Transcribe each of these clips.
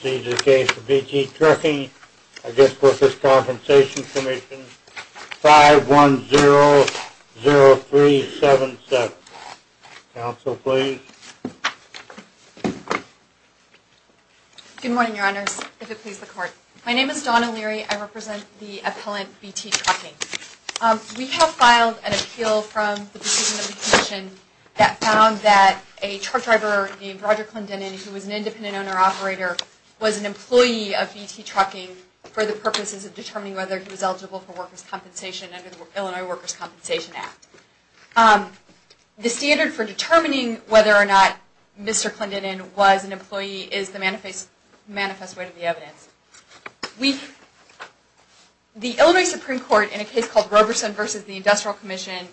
Proceeds of case for B.T. Trucking v. Workers' Compensation Commission, 5100377. Counsel, please. Good morning, Your Honors. If it please the Court. My name is Donna Leary. I represent the appellant, B.T. Trucking. We have filed an appeal from the proceeding of the commission that found that a truck driver named Roger Clendenin, who was an independent owner-operator, was an employee of B.T. Trucking for the purposes of determining whether he was eligible for workers' compensation under the Illinois Workers' Compensation Act. The standard for determining whether or not Mr. Clendenin was an employee is the manifest way to the evidence. The Illinois Supreme Court, in a case called Roberson v. The Industrial Commission,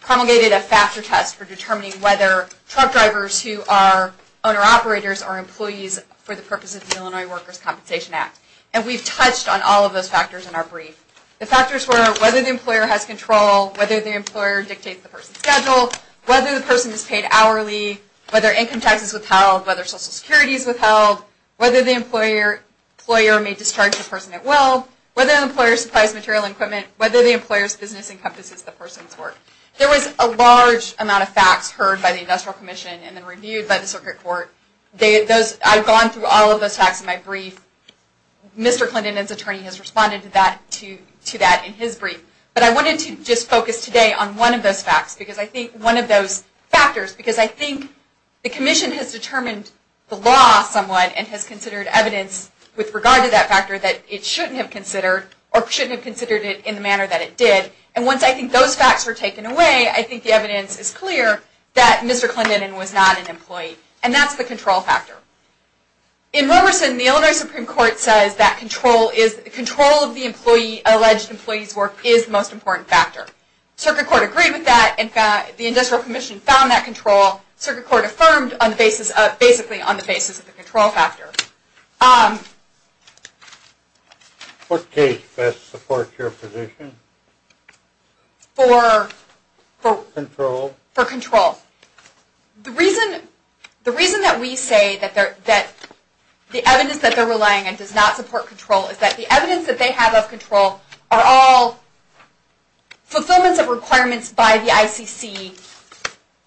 promulgated a factor test for determining whether truck drivers who are owner-operators are employees for the purposes of the Illinois Workers' Compensation Act. And we've touched on all of those factors in our brief. The factors were whether the employer has control, whether the employer dictates the person's schedule, whether the person is paid hourly, whether income tax is withheld, whether Social Security is withheld, whether the employer may discharge the person at will, whether the employer supplies material and equipment, whether the employer's business encompasses the person's work. There was a large amount of facts heard by the Industrial Commission and then reviewed by the Circuit Court. I've gone through all of those facts in my brief. Mr. Clendenin's attorney has responded to that in his brief. But I wanted to just focus today on one of those facts, because I think one of those factors, because I think the commission has determined the law somewhat and has considered evidence with regard to that factor that it shouldn't have considered or shouldn't have considered it in the manner that it did. And once I think those facts were taken away, I think the evidence is clear that Mr. Clendenin was not an employee. And that's the control factor. In Roberson, the Illinois Supreme Court says that control of the alleged employee's work is the most important factor. Circuit Court agreed with that. In fact, the Industrial Commission found that control. Circuit Court affirmed basically on the basis of the control factor. What case best supports your position? For? Control. For control. The reason that we say that the evidence that they're relying on does not support control is that the evidence that they have of control are all fulfillments of requirements by the ICC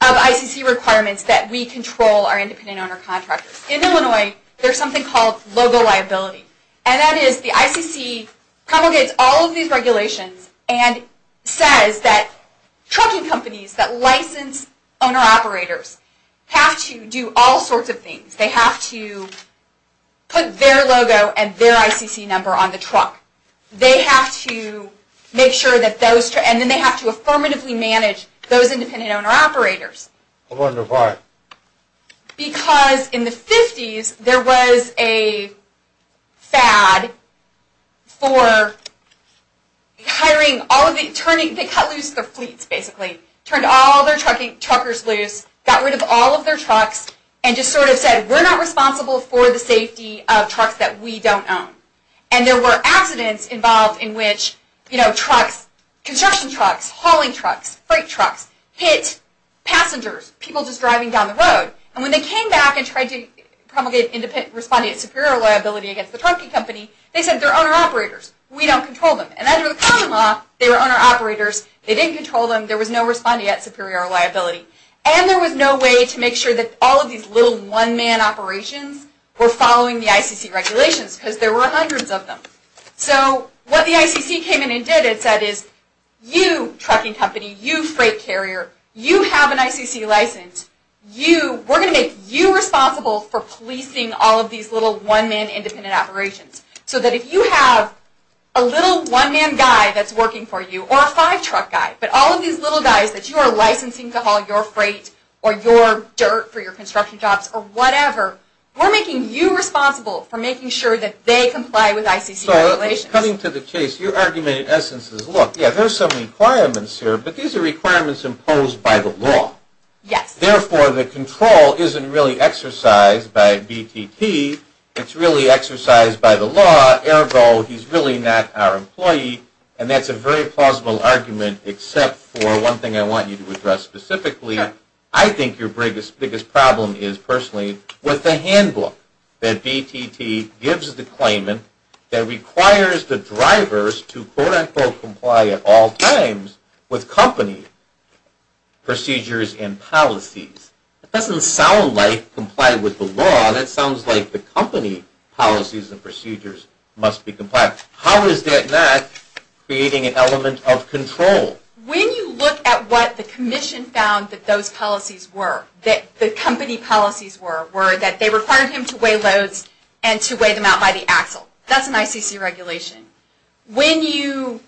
of ICC requirements that we control our independent owner contractors. In Illinois, there's something called logo liability. And that is the ICC promulgates all of these regulations and says that trucking companies that license owner operators have to do all sorts of things. They have to put their logo and their ICC number on the truck. They have to make sure that those... And then they have to affirmatively manage those independent owner operators. I wonder why. Because in the 50s, there was a fad for hiring all of the... They cut loose their fleets, basically. Turned all their truckers loose, got rid of all of their trucks, and just sort of said, we're not responsible for the safety of trucks that we don't own. And there were accidents involved in which, you know, trucks, construction trucks, hauling trucks, freight trucks, hit passengers, people just driving down the road. And when they came back and tried to promulgate responding at superior liability against the trucking company, they said they're owner operators. We don't control them. And under the common law, they were owner operators. They didn't control them. There was no responding at superior liability. And there was no way to make sure that all of these little one-man operations were following the ICC regulations because there were hundreds of them. So what the ICC came in and did and said is, you, trucking company, you, freight carrier, you have an ICC license. We're going to make you responsible for policing all of these little one-man independent operations. So that if you have a little one-man guy that's working for you, or a five-truck guy, but all of these little guys that you are licensing to haul your freight or your dirt for your construction jobs or whatever, we're making you responsible for making sure that they comply with ICC regulations. So coming to the case, your argument in essence is, look, yeah, there are some requirements here, but these are requirements imposed by the law. Yes. Therefore, the control isn't really exercised by BTP. It's really exercised by the law, ergo he's really not our employee. And that's a very plausible argument except for one thing I want you to address specifically. Sure. I think your biggest problem is personally with the handbook that BTP gives the claimant that requires the drivers to quote-unquote comply at all times with company procedures and policies. It doesn't sound like comply with the law. That sounds like the company policies and procedures must be complied. How is that not creating an element of control? When you look at what the commission found that those policies were, that the company policies were, were that they required him to weigh loads and to weigh them out by the axle. That's an ICC regulation. When you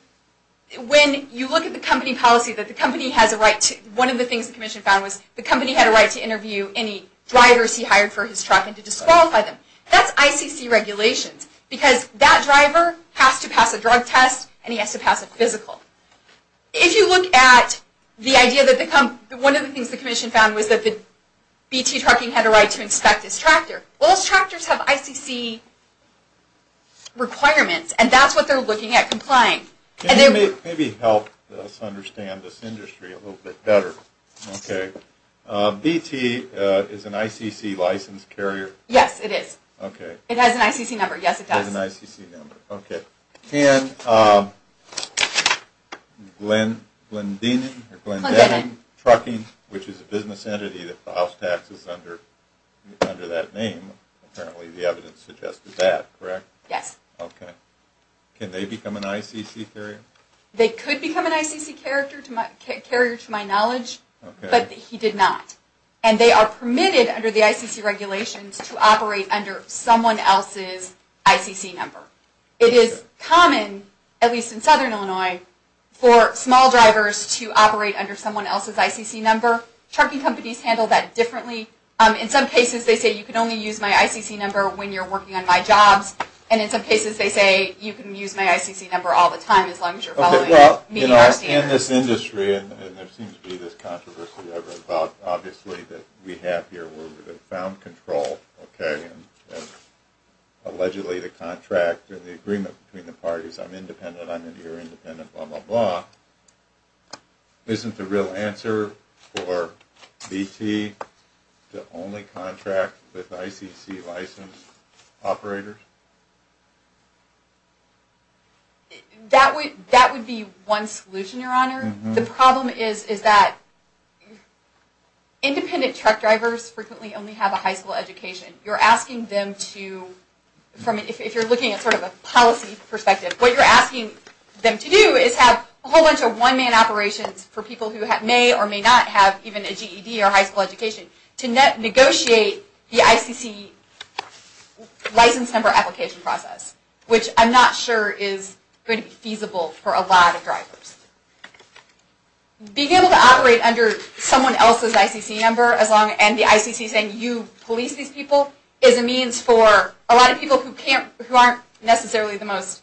look at the company policy that the company has a right to, one of the things the commission found was the company had a right to interview any drivers he hired for his truck and to disqualify them. That's ICC regulations because that driver has to pass a drug test and he has to pass a physical. If you look at the idea that the company, one of the things the commission found was that the BT trucking had a right to inspect his tractor. Those tractors have ICC requirements and that's what they're looking at, complying. Can you maybe help us understand this industry a little bit better? Okay. BT is an ICC license carrier? Yes, it is. Okay. It has an ICC number. Yes, it does. It has an ICC number. Okay. Can Glen, Glendening, or Glendening Trucking, which is a business entity that the house tax is under, under that name, apparently the evidence suggested that, correct? Yes. Okay. Can they become an ICC carrier? They could become an ICC carrier to my knowledge, but he did not. And they are permitted under the ICC regulations to operate under someone else's ICC number. It is common, at least in southern Illinois, for small drivers to operate under someone else's ICC number. Trucking companies handle that differently. In some cases they say you can only use my ICC number when you're working on my jobs, and in some cases they say you can use my ICC number all the time as long as you're following me and our standards. In this industry, and there seems to be this controversy about, obviously, that we have here where we have found control, okay, and allegedly the contract and the agreement between the parties, I'm independent, I'm in here independent, blah, blah, blah. Isn't the real answer for BT to only contract with ICC licensed operators? That would be one solution, Your Honor. The problem is that independent truck drivers frequently only have a high school education. You're asking them to, if you're looking at sort of a policy perspective, what you're asking them to do is have a whole bunch of one-man operations for people who may or may not have even a GED or high school education to negotiate the ICC license number application process, which I'm not sure is going to be feasible for a lot of drivers. Being able to operate under someone else's ICC number and the ICC saying you police these people is a means for a lot of people who aren't necessarily the most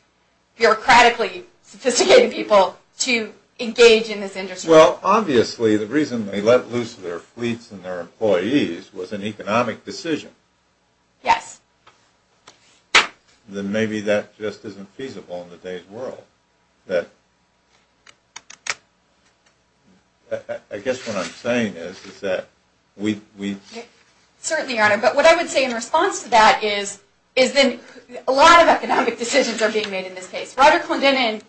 bureaucratically sophisticated people to engage in this industry. Well, obviously the reason they let loose their fleets and their employees was an economic decision. Yes. Then maybe that just isn't feasible in today's world. I guess what I'm saying is that we... Certainly, Your Honor, but what I would say in response to that is that a lot of economic decisions are being made in this case. Roger Clendenin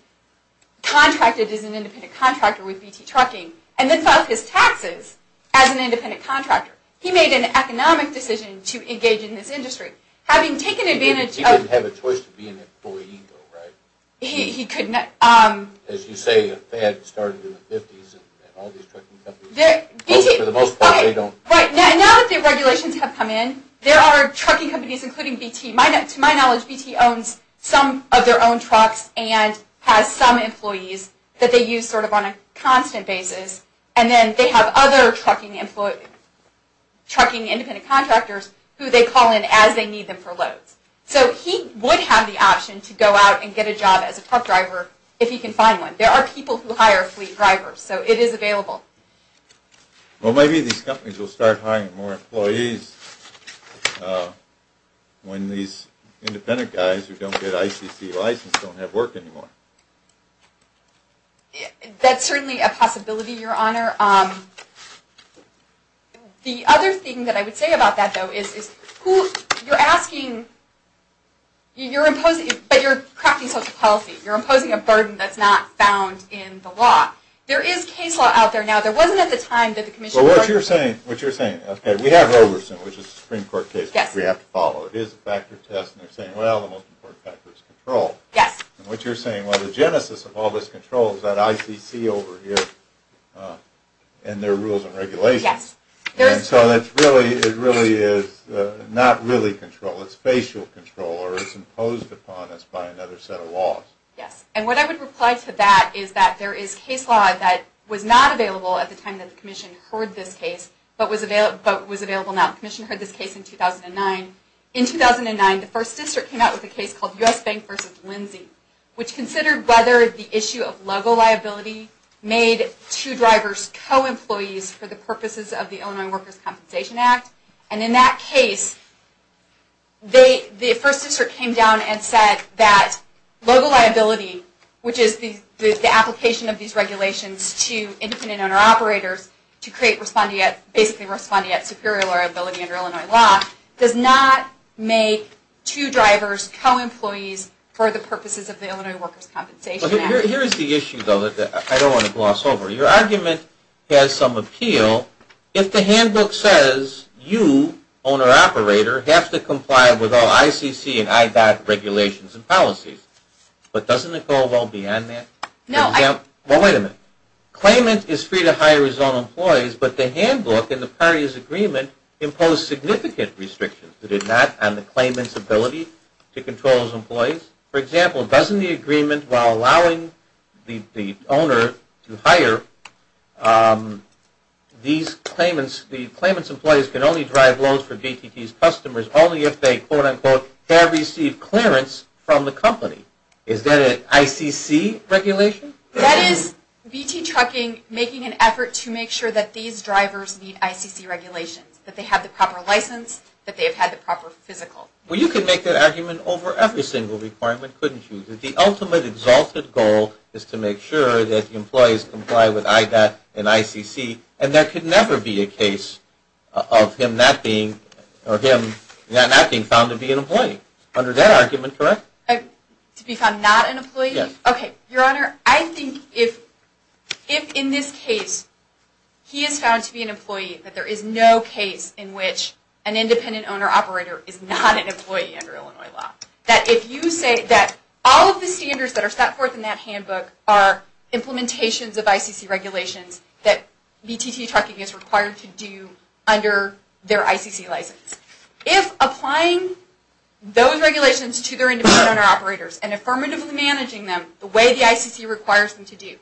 contracted as an independent contractor with BT Trucking and then filed his taxes as an independent contractor. He made an economic decision to engage in this industry. Having taken advantage of... He didn't have a choice to be an employee, though, right? He could not... As you say, the Fed started in the 50s and all these trucking companies, for the most part, they don't... Right. Now that the regulations have come in, there are trucking companies, including BT. To my knowledge, BT owns some of their own trucks and has some employees that they use sort of on a constant basis. And then they have other trucking independent contractors who they call in as they need them for loads. So he would have the option to go out and get a job as a truck driver if he can find one. There are people who hire fleet drivers, so it is available. Well, maybe these companies will start hiring more employees when these independent guys who don't get ICC license don't have work anymore. That's certainly a possibility, Your Honor. The other thing that I would say about that, though, is who... You're asking... You're imposing... But you're cracking social policy. You're imposing a burden that's not found in the law. There is case law out there now. There wasn't at the time that the Commission... Well, what you're saying... What you're saying... We have Overson, which is a Supreme Court case that we have to follow. It is a factor test, and they're saying, well, the most important factor is control. Yes. And what you're saying, well, the genesis of all this control is that ICC over here and their rules and regulations. Yes. And so it really is not really control. It's facial control, or it's imposed upon us by another set of laws. Yes. And what I would reply to that is that there is case law that was not available at the time that the Commission heard this case, but was available now. The Commission heard this case in 2009. In 2009, the First District came out with a case called U.S. Bank v. Lindsay, which considered whether the issue of LOGO liability made two drivers co-employees for the purposes of the Illinois Workers' Compensation Act. And in that case, the First District came down and said that LOGO liability, which is the application of these regulations to independent owner-operators to create respondeat, basically respondeat superior liability under Illinois law, does not make two drivers co-employees for the purposes of the Illinois Workers' Compensation Act. Here is the issue, though, that I don't want to gloss over. Your argument has some appeal. For example, if the handbook says you, owner-operator, have to comply with all ICC and IDOT regulations and policies, but doesn't it go well beyond that? No. Well, wait a minute. Claimant is free to hire his own employees, but the handbook and the parties' agreement impose significant restrictions. It is not on the claimant's ability to control his employees. For example, doesn't the agreement, while allowing the owner to hire these claimants, the claimant's employees can only drive loads for VTT's customers only if they, quote-unquote, have received clearance from the company? Is that an ICC regulation? That is VT Trucking making an effort to make sure that these drivers meet ICC regulations, that they have the proper license, that they have had the proper physical. Well, you could make that argument over every single requirement, couldn't you, that the ultimate exalted goal is to make sure that the employees comply with IDOT and ICC, and there could never be a case of him not being found to be an employee. Under that argument, correct? To be found not an employee? Yes. Okay. Your Honor, I think if in this case he is found to be an employee, that there is no case in which an independent owner-operator is not an employee under Illinois law. That if you say that all of the standards that are set forth in that handbook are implementations of ICC regulations that VTT Trucking is required to do under their ICC license. If applying those regulations to their independent owner-operators and affirmatively managing them the way the ICC requires them to do,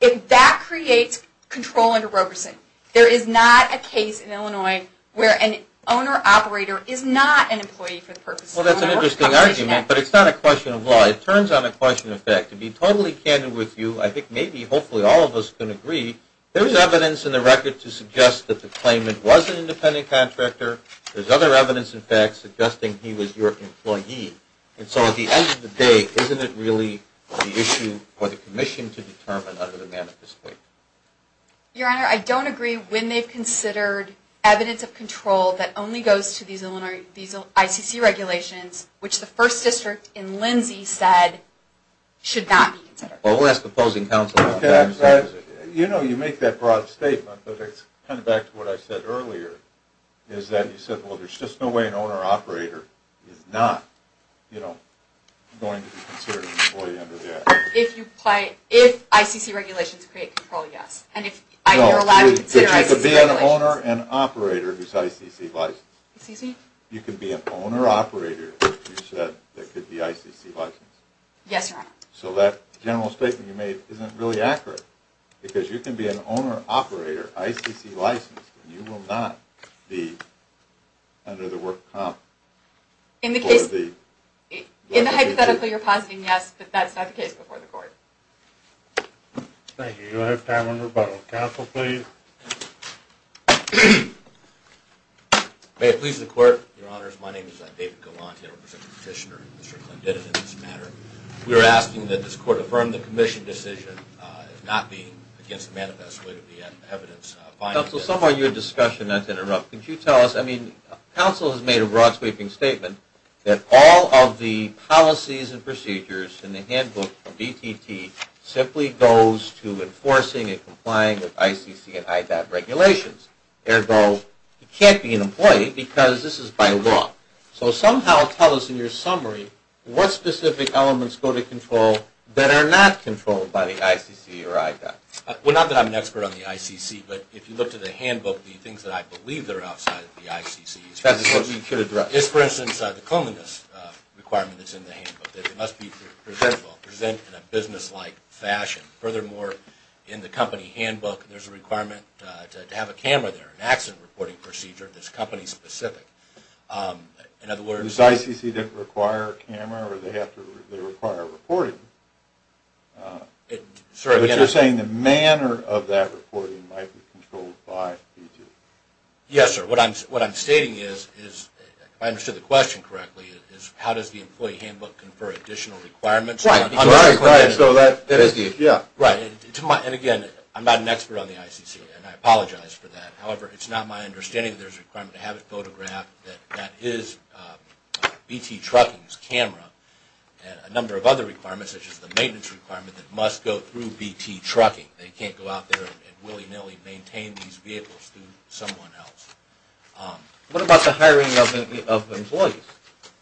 if that creates control under Roberson, there is not a case in Illinois where an owner-operator is not an employee for the purposes of Illinois law. Well, that's an interesting argument, but it's not a question of law. It turns out a question of fact. To be totally candid with you, I think maybe hopefully all of us can agree, there is evidence in the record to suggest that the claimant was an independent contractor. There is other evidence, in fact, suggesting he was your employee. And so at the end of the day, isn't it really the issue for the commission to determine under the manifesto? Your Honor, I don't agree when they've considered evidence of control that only goes to these ICC regulations, which the first district in Lindsay said should not be considered. Well, we'll ask the opposing counsel about that. You know, you make that broad statement, but it's kind of back to what I said earlier, is that you said, well, there's just no way an owner-operator is not going to be considered an employee under that. If ICC regulations create control, yes. So you can be an owner and operator who is ICC licensed. Excuse me? You can be an owner-operator, you said, that could be ICC licensed. Yes, Your Honor. So that general statement you made isn't really accurate. Because you can be an owner-operator, ICC licensed, and you will not be under the work comp. In the hypothetical, you're positing yes, but that's not the case before the court. Thank you. We'll have time for rebuttal. Counsel, please. May it please the Court, Your Honors. My name is David Galante, I represent the Petitioner and Mr. Clenditt in this matter. We are asking that this Court affirm the commission decision as not being against the manifesto evidence. Counsel, somewhere in your discussion, not to interrupt, but could you tell us, I mean, Counsel has made a broad-sweeping statement that all of the policies and procedures in the handbook of DTT simply goes to enforcing and complying with ICC and IDOT regulations. Ergo, you can't be an employee because this is by law. So somehow tell us in your summary what specific elements go to control that are not controlled by the ICC or IDOT. Well, not that I'm an expert on the ICC, but if you look to the handbook, the things that I believe that are outside of the ICC is, for instance, the cleanliness requirement that's in the handbook, that it must be presentable, present in a business-like fashion. Furthermore, in the company handbook, there's a requirement to have a camera there, an accident reporting procedure that's company-specific. In other words, This ICC didn't require a camera or they require reporting. But you're saying the manner of that reporting might be controlled by BT? Yes, sir. What I'm stating is, if I understood the question correctly, is how does the employee handbook confer additional requirements? Right, right. So that is the idea. Right. And again, I'm not an expert on the ICC, and I apologize for that. However, it's not my understanding that there's a requirement to have it photographed, that that is BT Trucking's camera. And a number of other requirements, such as the maintenance requirement, that must go through BT Trucking. They can't go out there and willy-nilly maintain these vehicles through someone else. What about the hiring of employees?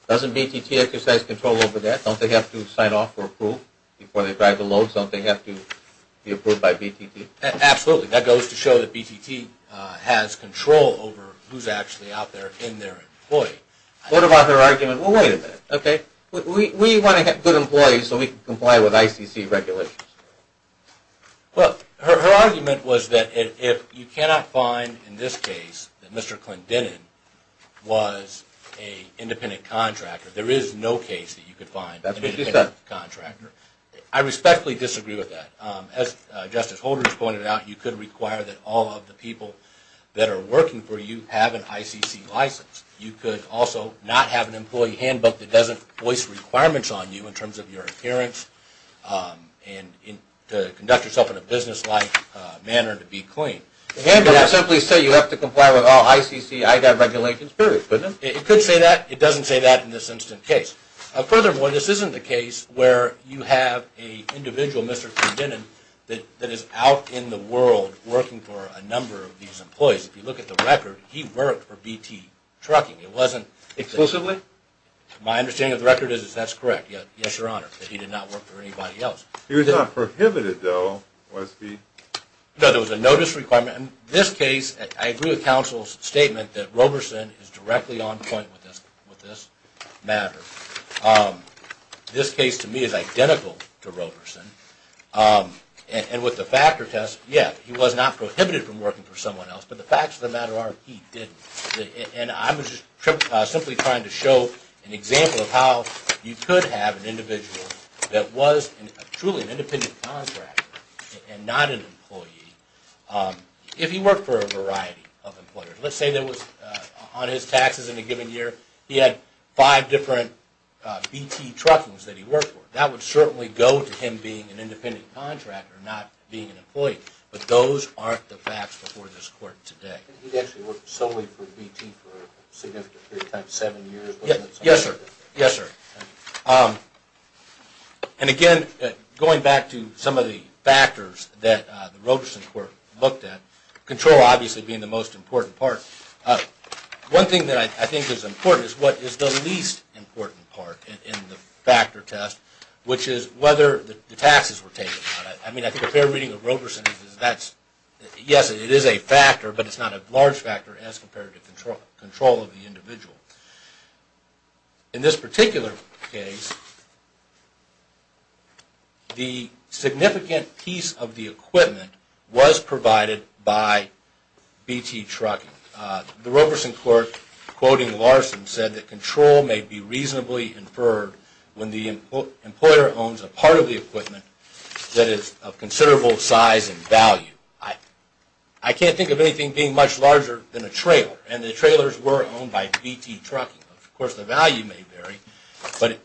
Doesn't BTT exercise control over that? Don't they have to sign off or approve before they drive the load? Don't they have to be approved by BTT? Absolutely. That goes to show that BTT has control over who's actually out there in their employee. What about their argument, well, wait a minute, okay? We want to have good employees so we can comply with ICC regulations. Well, her argument was that if you cannot find, in this case, that Mr. Clendenin was an independent contractor, there is no case that you could find an independent contractor. I respectfully disagree with that. As Justice Holder has pointed out, you could require that all of the people that are working for you have an ICC license. You could also not have an employee handbook that doesn't voice requirements on you in terms of your appearance and to conduct yourself in a business-like manner and to be clean. The handbook would simply say you have to comply with all ICC IDA regulations, period, wouldn't it? It could say that. It doesn't say that in this instant case. Furthermore, this isn't the case where you have an individual, Mr. Clendenin, that is out in the world working for a number of these employees. If you look at the record, he worked for BT Trucking. It wasn't- Exclusively? My understanding of the record is that's correct. Yes, Your Honor, that he did not work for anybody else. He was not prohibited, though, was he? No, there was a notice requirement. In this case, I agree with counsel's statement that Roberson is directly on point with this matter. This case, to me, is identical to Roberson. And with the factor test, yes, he was not prohibited from working for someone else, but the facts of the matter are he didn't. And I'm simply trying to show an example of how you could have an individual that was truly an independent contractor and not an employee, if he worked for a variety of employers. Let's say on his taxes in a given year, he had five different BT Truckings that he worked for. That would certainly go to him being an independent contractor, not being an employee. But those aren't the facts before this Court today. He actually worked solely for BT for a significant period of time, seven years, wasn't it? Yes, sir. Yes, sir. And again, going back to some of the factors that the Roberson Court looked at, control obviously being the most important part, one thing that I think is important is what is the least important part in the factor test, which is whether the taxes were taken. I mean, I think a fair reading of Roberson is that yes, it is a factor, but it's not a large factor as compared to control of the individual. In this particular case, the significant piece of the equipment was provided by BT Trucking. The Roberson Court, quoting Larson, said that control may be reasonably inferred when the employer owns a part of the equipment that is of considerable size and value. I can't think of anything being much larger than a trailer, and the trailers were owned by BT Trucking. Of course, the value may vary,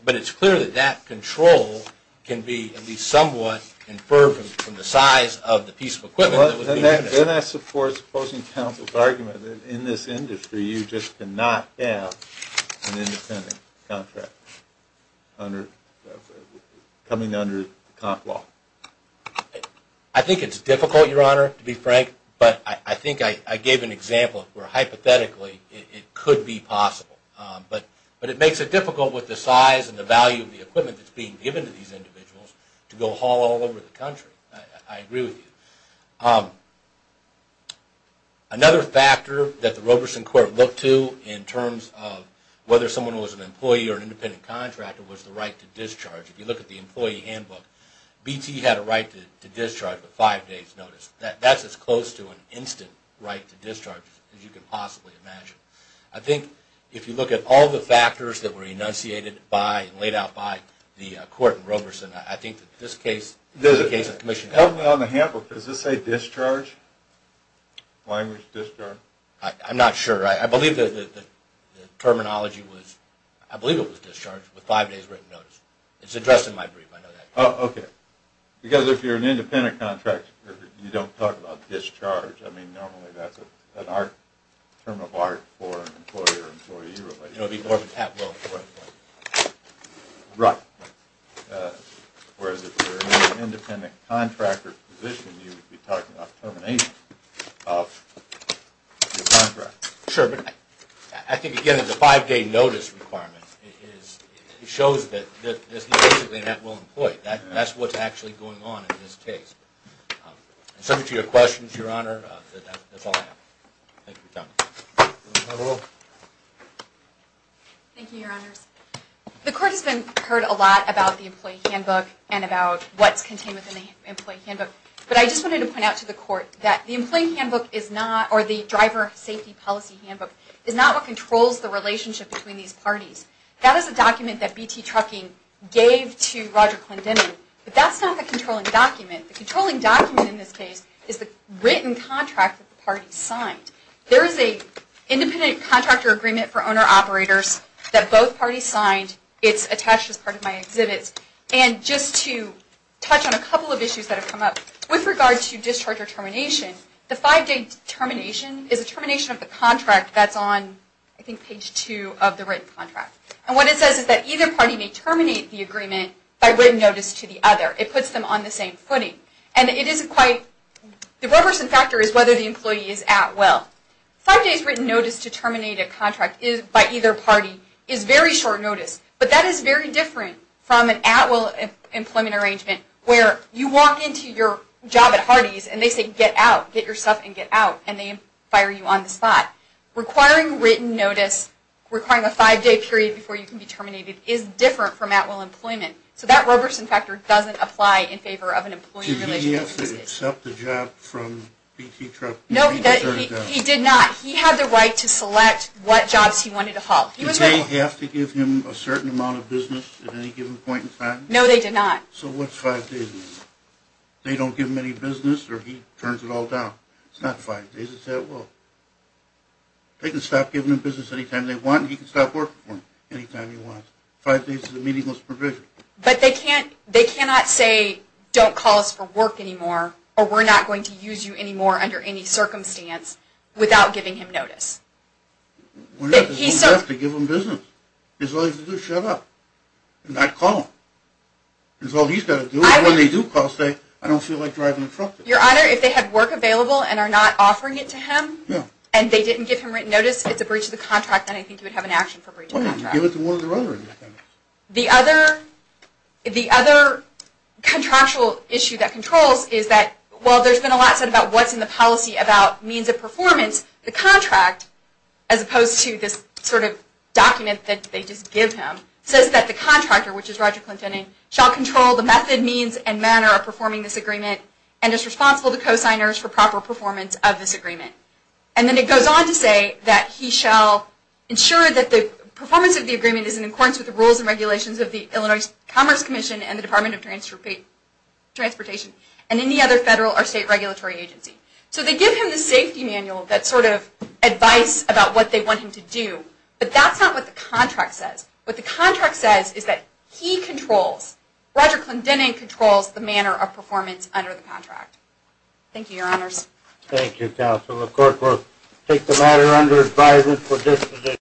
but it's clear that that control can be at least somewhat inferred from the size of the piece of equipment that would be in there. Then that's, of course, opposing counsel's argument that in this industry, you just cannot have an independent contractor coming under the comp law. I think it's difficult, Your Honor, to be frank, but I think I gave an example where hypothetically it could be possible. But it makes it difficult with the size and the value of the equipment that's being given to these individuals to go haul all over the country. I agree with you. Another factor that the Roberson Court looked to in terms of whether someone was an employee or an independent contractor was the right to discharge. If you look at the employee handbook, BT had a right to discharge with five days' notice. That's as close to an instant right to discharge as you can possibly imagine. I think if you look at all the factors that were enunciated by and laid out by the court in Roberson, I think that this case is a case of commission. On the handbook, does it say discharge, language discharge? I'm not sure. I believe the terminology was, I believe it was discharge with five days' written notice. It's addressed in my brief, I know that. Oh, okay. Because if you're an independent contractor, you don't talk about discharge. I mean, normally that's an art, term of art for an employer, employee-related. It would be more of an at-will employment. Right. Whereas if you're an independent contractor's position, you would be talking about termination of the contract. Sure, but I think, again, that the five-day notice requirement is, it shows that this is basically an at-will employment. That's what's actually going on in this case. And subject to your questions, Your Honor, that's all I have. Thank you for coming. Thank you, Your Honors. The court has heard a lot about the employee handbook and about what's contained within the employee handbook, but I just wanted to point out to the court that the employee handbook is not, or the driver safety policy handbook, is not what controls the relationship between these parties. That is a document that BT Trucking gave to Roger Klendening, but that's not the controlling document. The controlling document in this case is the written contract that the parties signed. There is an independent contractor agreement for owner-operators that both parties signed. It's attached as part of my exhibits. And just to touch on a couple of issues that have come up, with regard to discharge or termination, the five-day termination is a termination of the contract that's on, I think, page two of the written contract. And what it says is that either party may terminate the agreement by written notice to the other. It puts them on the same footing. And it isn't quite, the reversing factor is whether the employee is at-will. Five days' written notice to terminate a contract by either party is very short notice, but that is very different from an at-will employment arrangement where you walk into your job at Hardee's and they say, get out, get your stuff and get out, and they fire you on the spot. Requiring written notice, requiring a five-day period before you can be terminated, is different from at-will employment. So that reversing factor doesn't apply in favor of an employee relationship. Did he have to accept the job from BT Truck? No, he did not. He had the right to select what jobs he wanted to haul. Did they have to give him a certain amount of business at any given point in time? No, they did not. So what's five days? They don't give him any business or he turns it all down. It's not five days, it's at-will. They can stop giving him business any time they want, and he can stop working for them any time he wants. Five days is a meaningless provision. But they cannot say, don't call us for work anymore, or we're not going to use you anymore under any circumstance without giving him notice. He still has to give them business. His only thing to do is shut up and not call them. That's all he's got to do. When they do call, say, I don't feel like driving a truck. Your Honor, if they have work available and are not offering it to him, and they didn't give him written notice, it's a breach of the contract, then I think you would have an action for breach of contract. Give it to one or the other. The other contractual issue that controls is that while there's been a lot said about what's in the policy about means of performance, the contract, as opposed to this sort of document that they just give him, says that the contractor, which is Roger Clinton, shall control the method, means, and manner of performing this agreement and is responsible to co-signers for proper performance of this agreement. And then it goes on to say that he shall ensure that the performance of the agreement is in accordance with the rules and regulations of the Illinois Commerce Commission and the Department of Transportation and any other federal or state regulatory agency. So they give him the safety manual, that sort of advice about what they want him to do, but that's not what the contract says. What the contract says is that he controls, Roger Clinton controls, the manner of performance under the contract. Thank you, Your Honors. Thank you, Counsel. Of course, we'll take the matter under advisement for this position.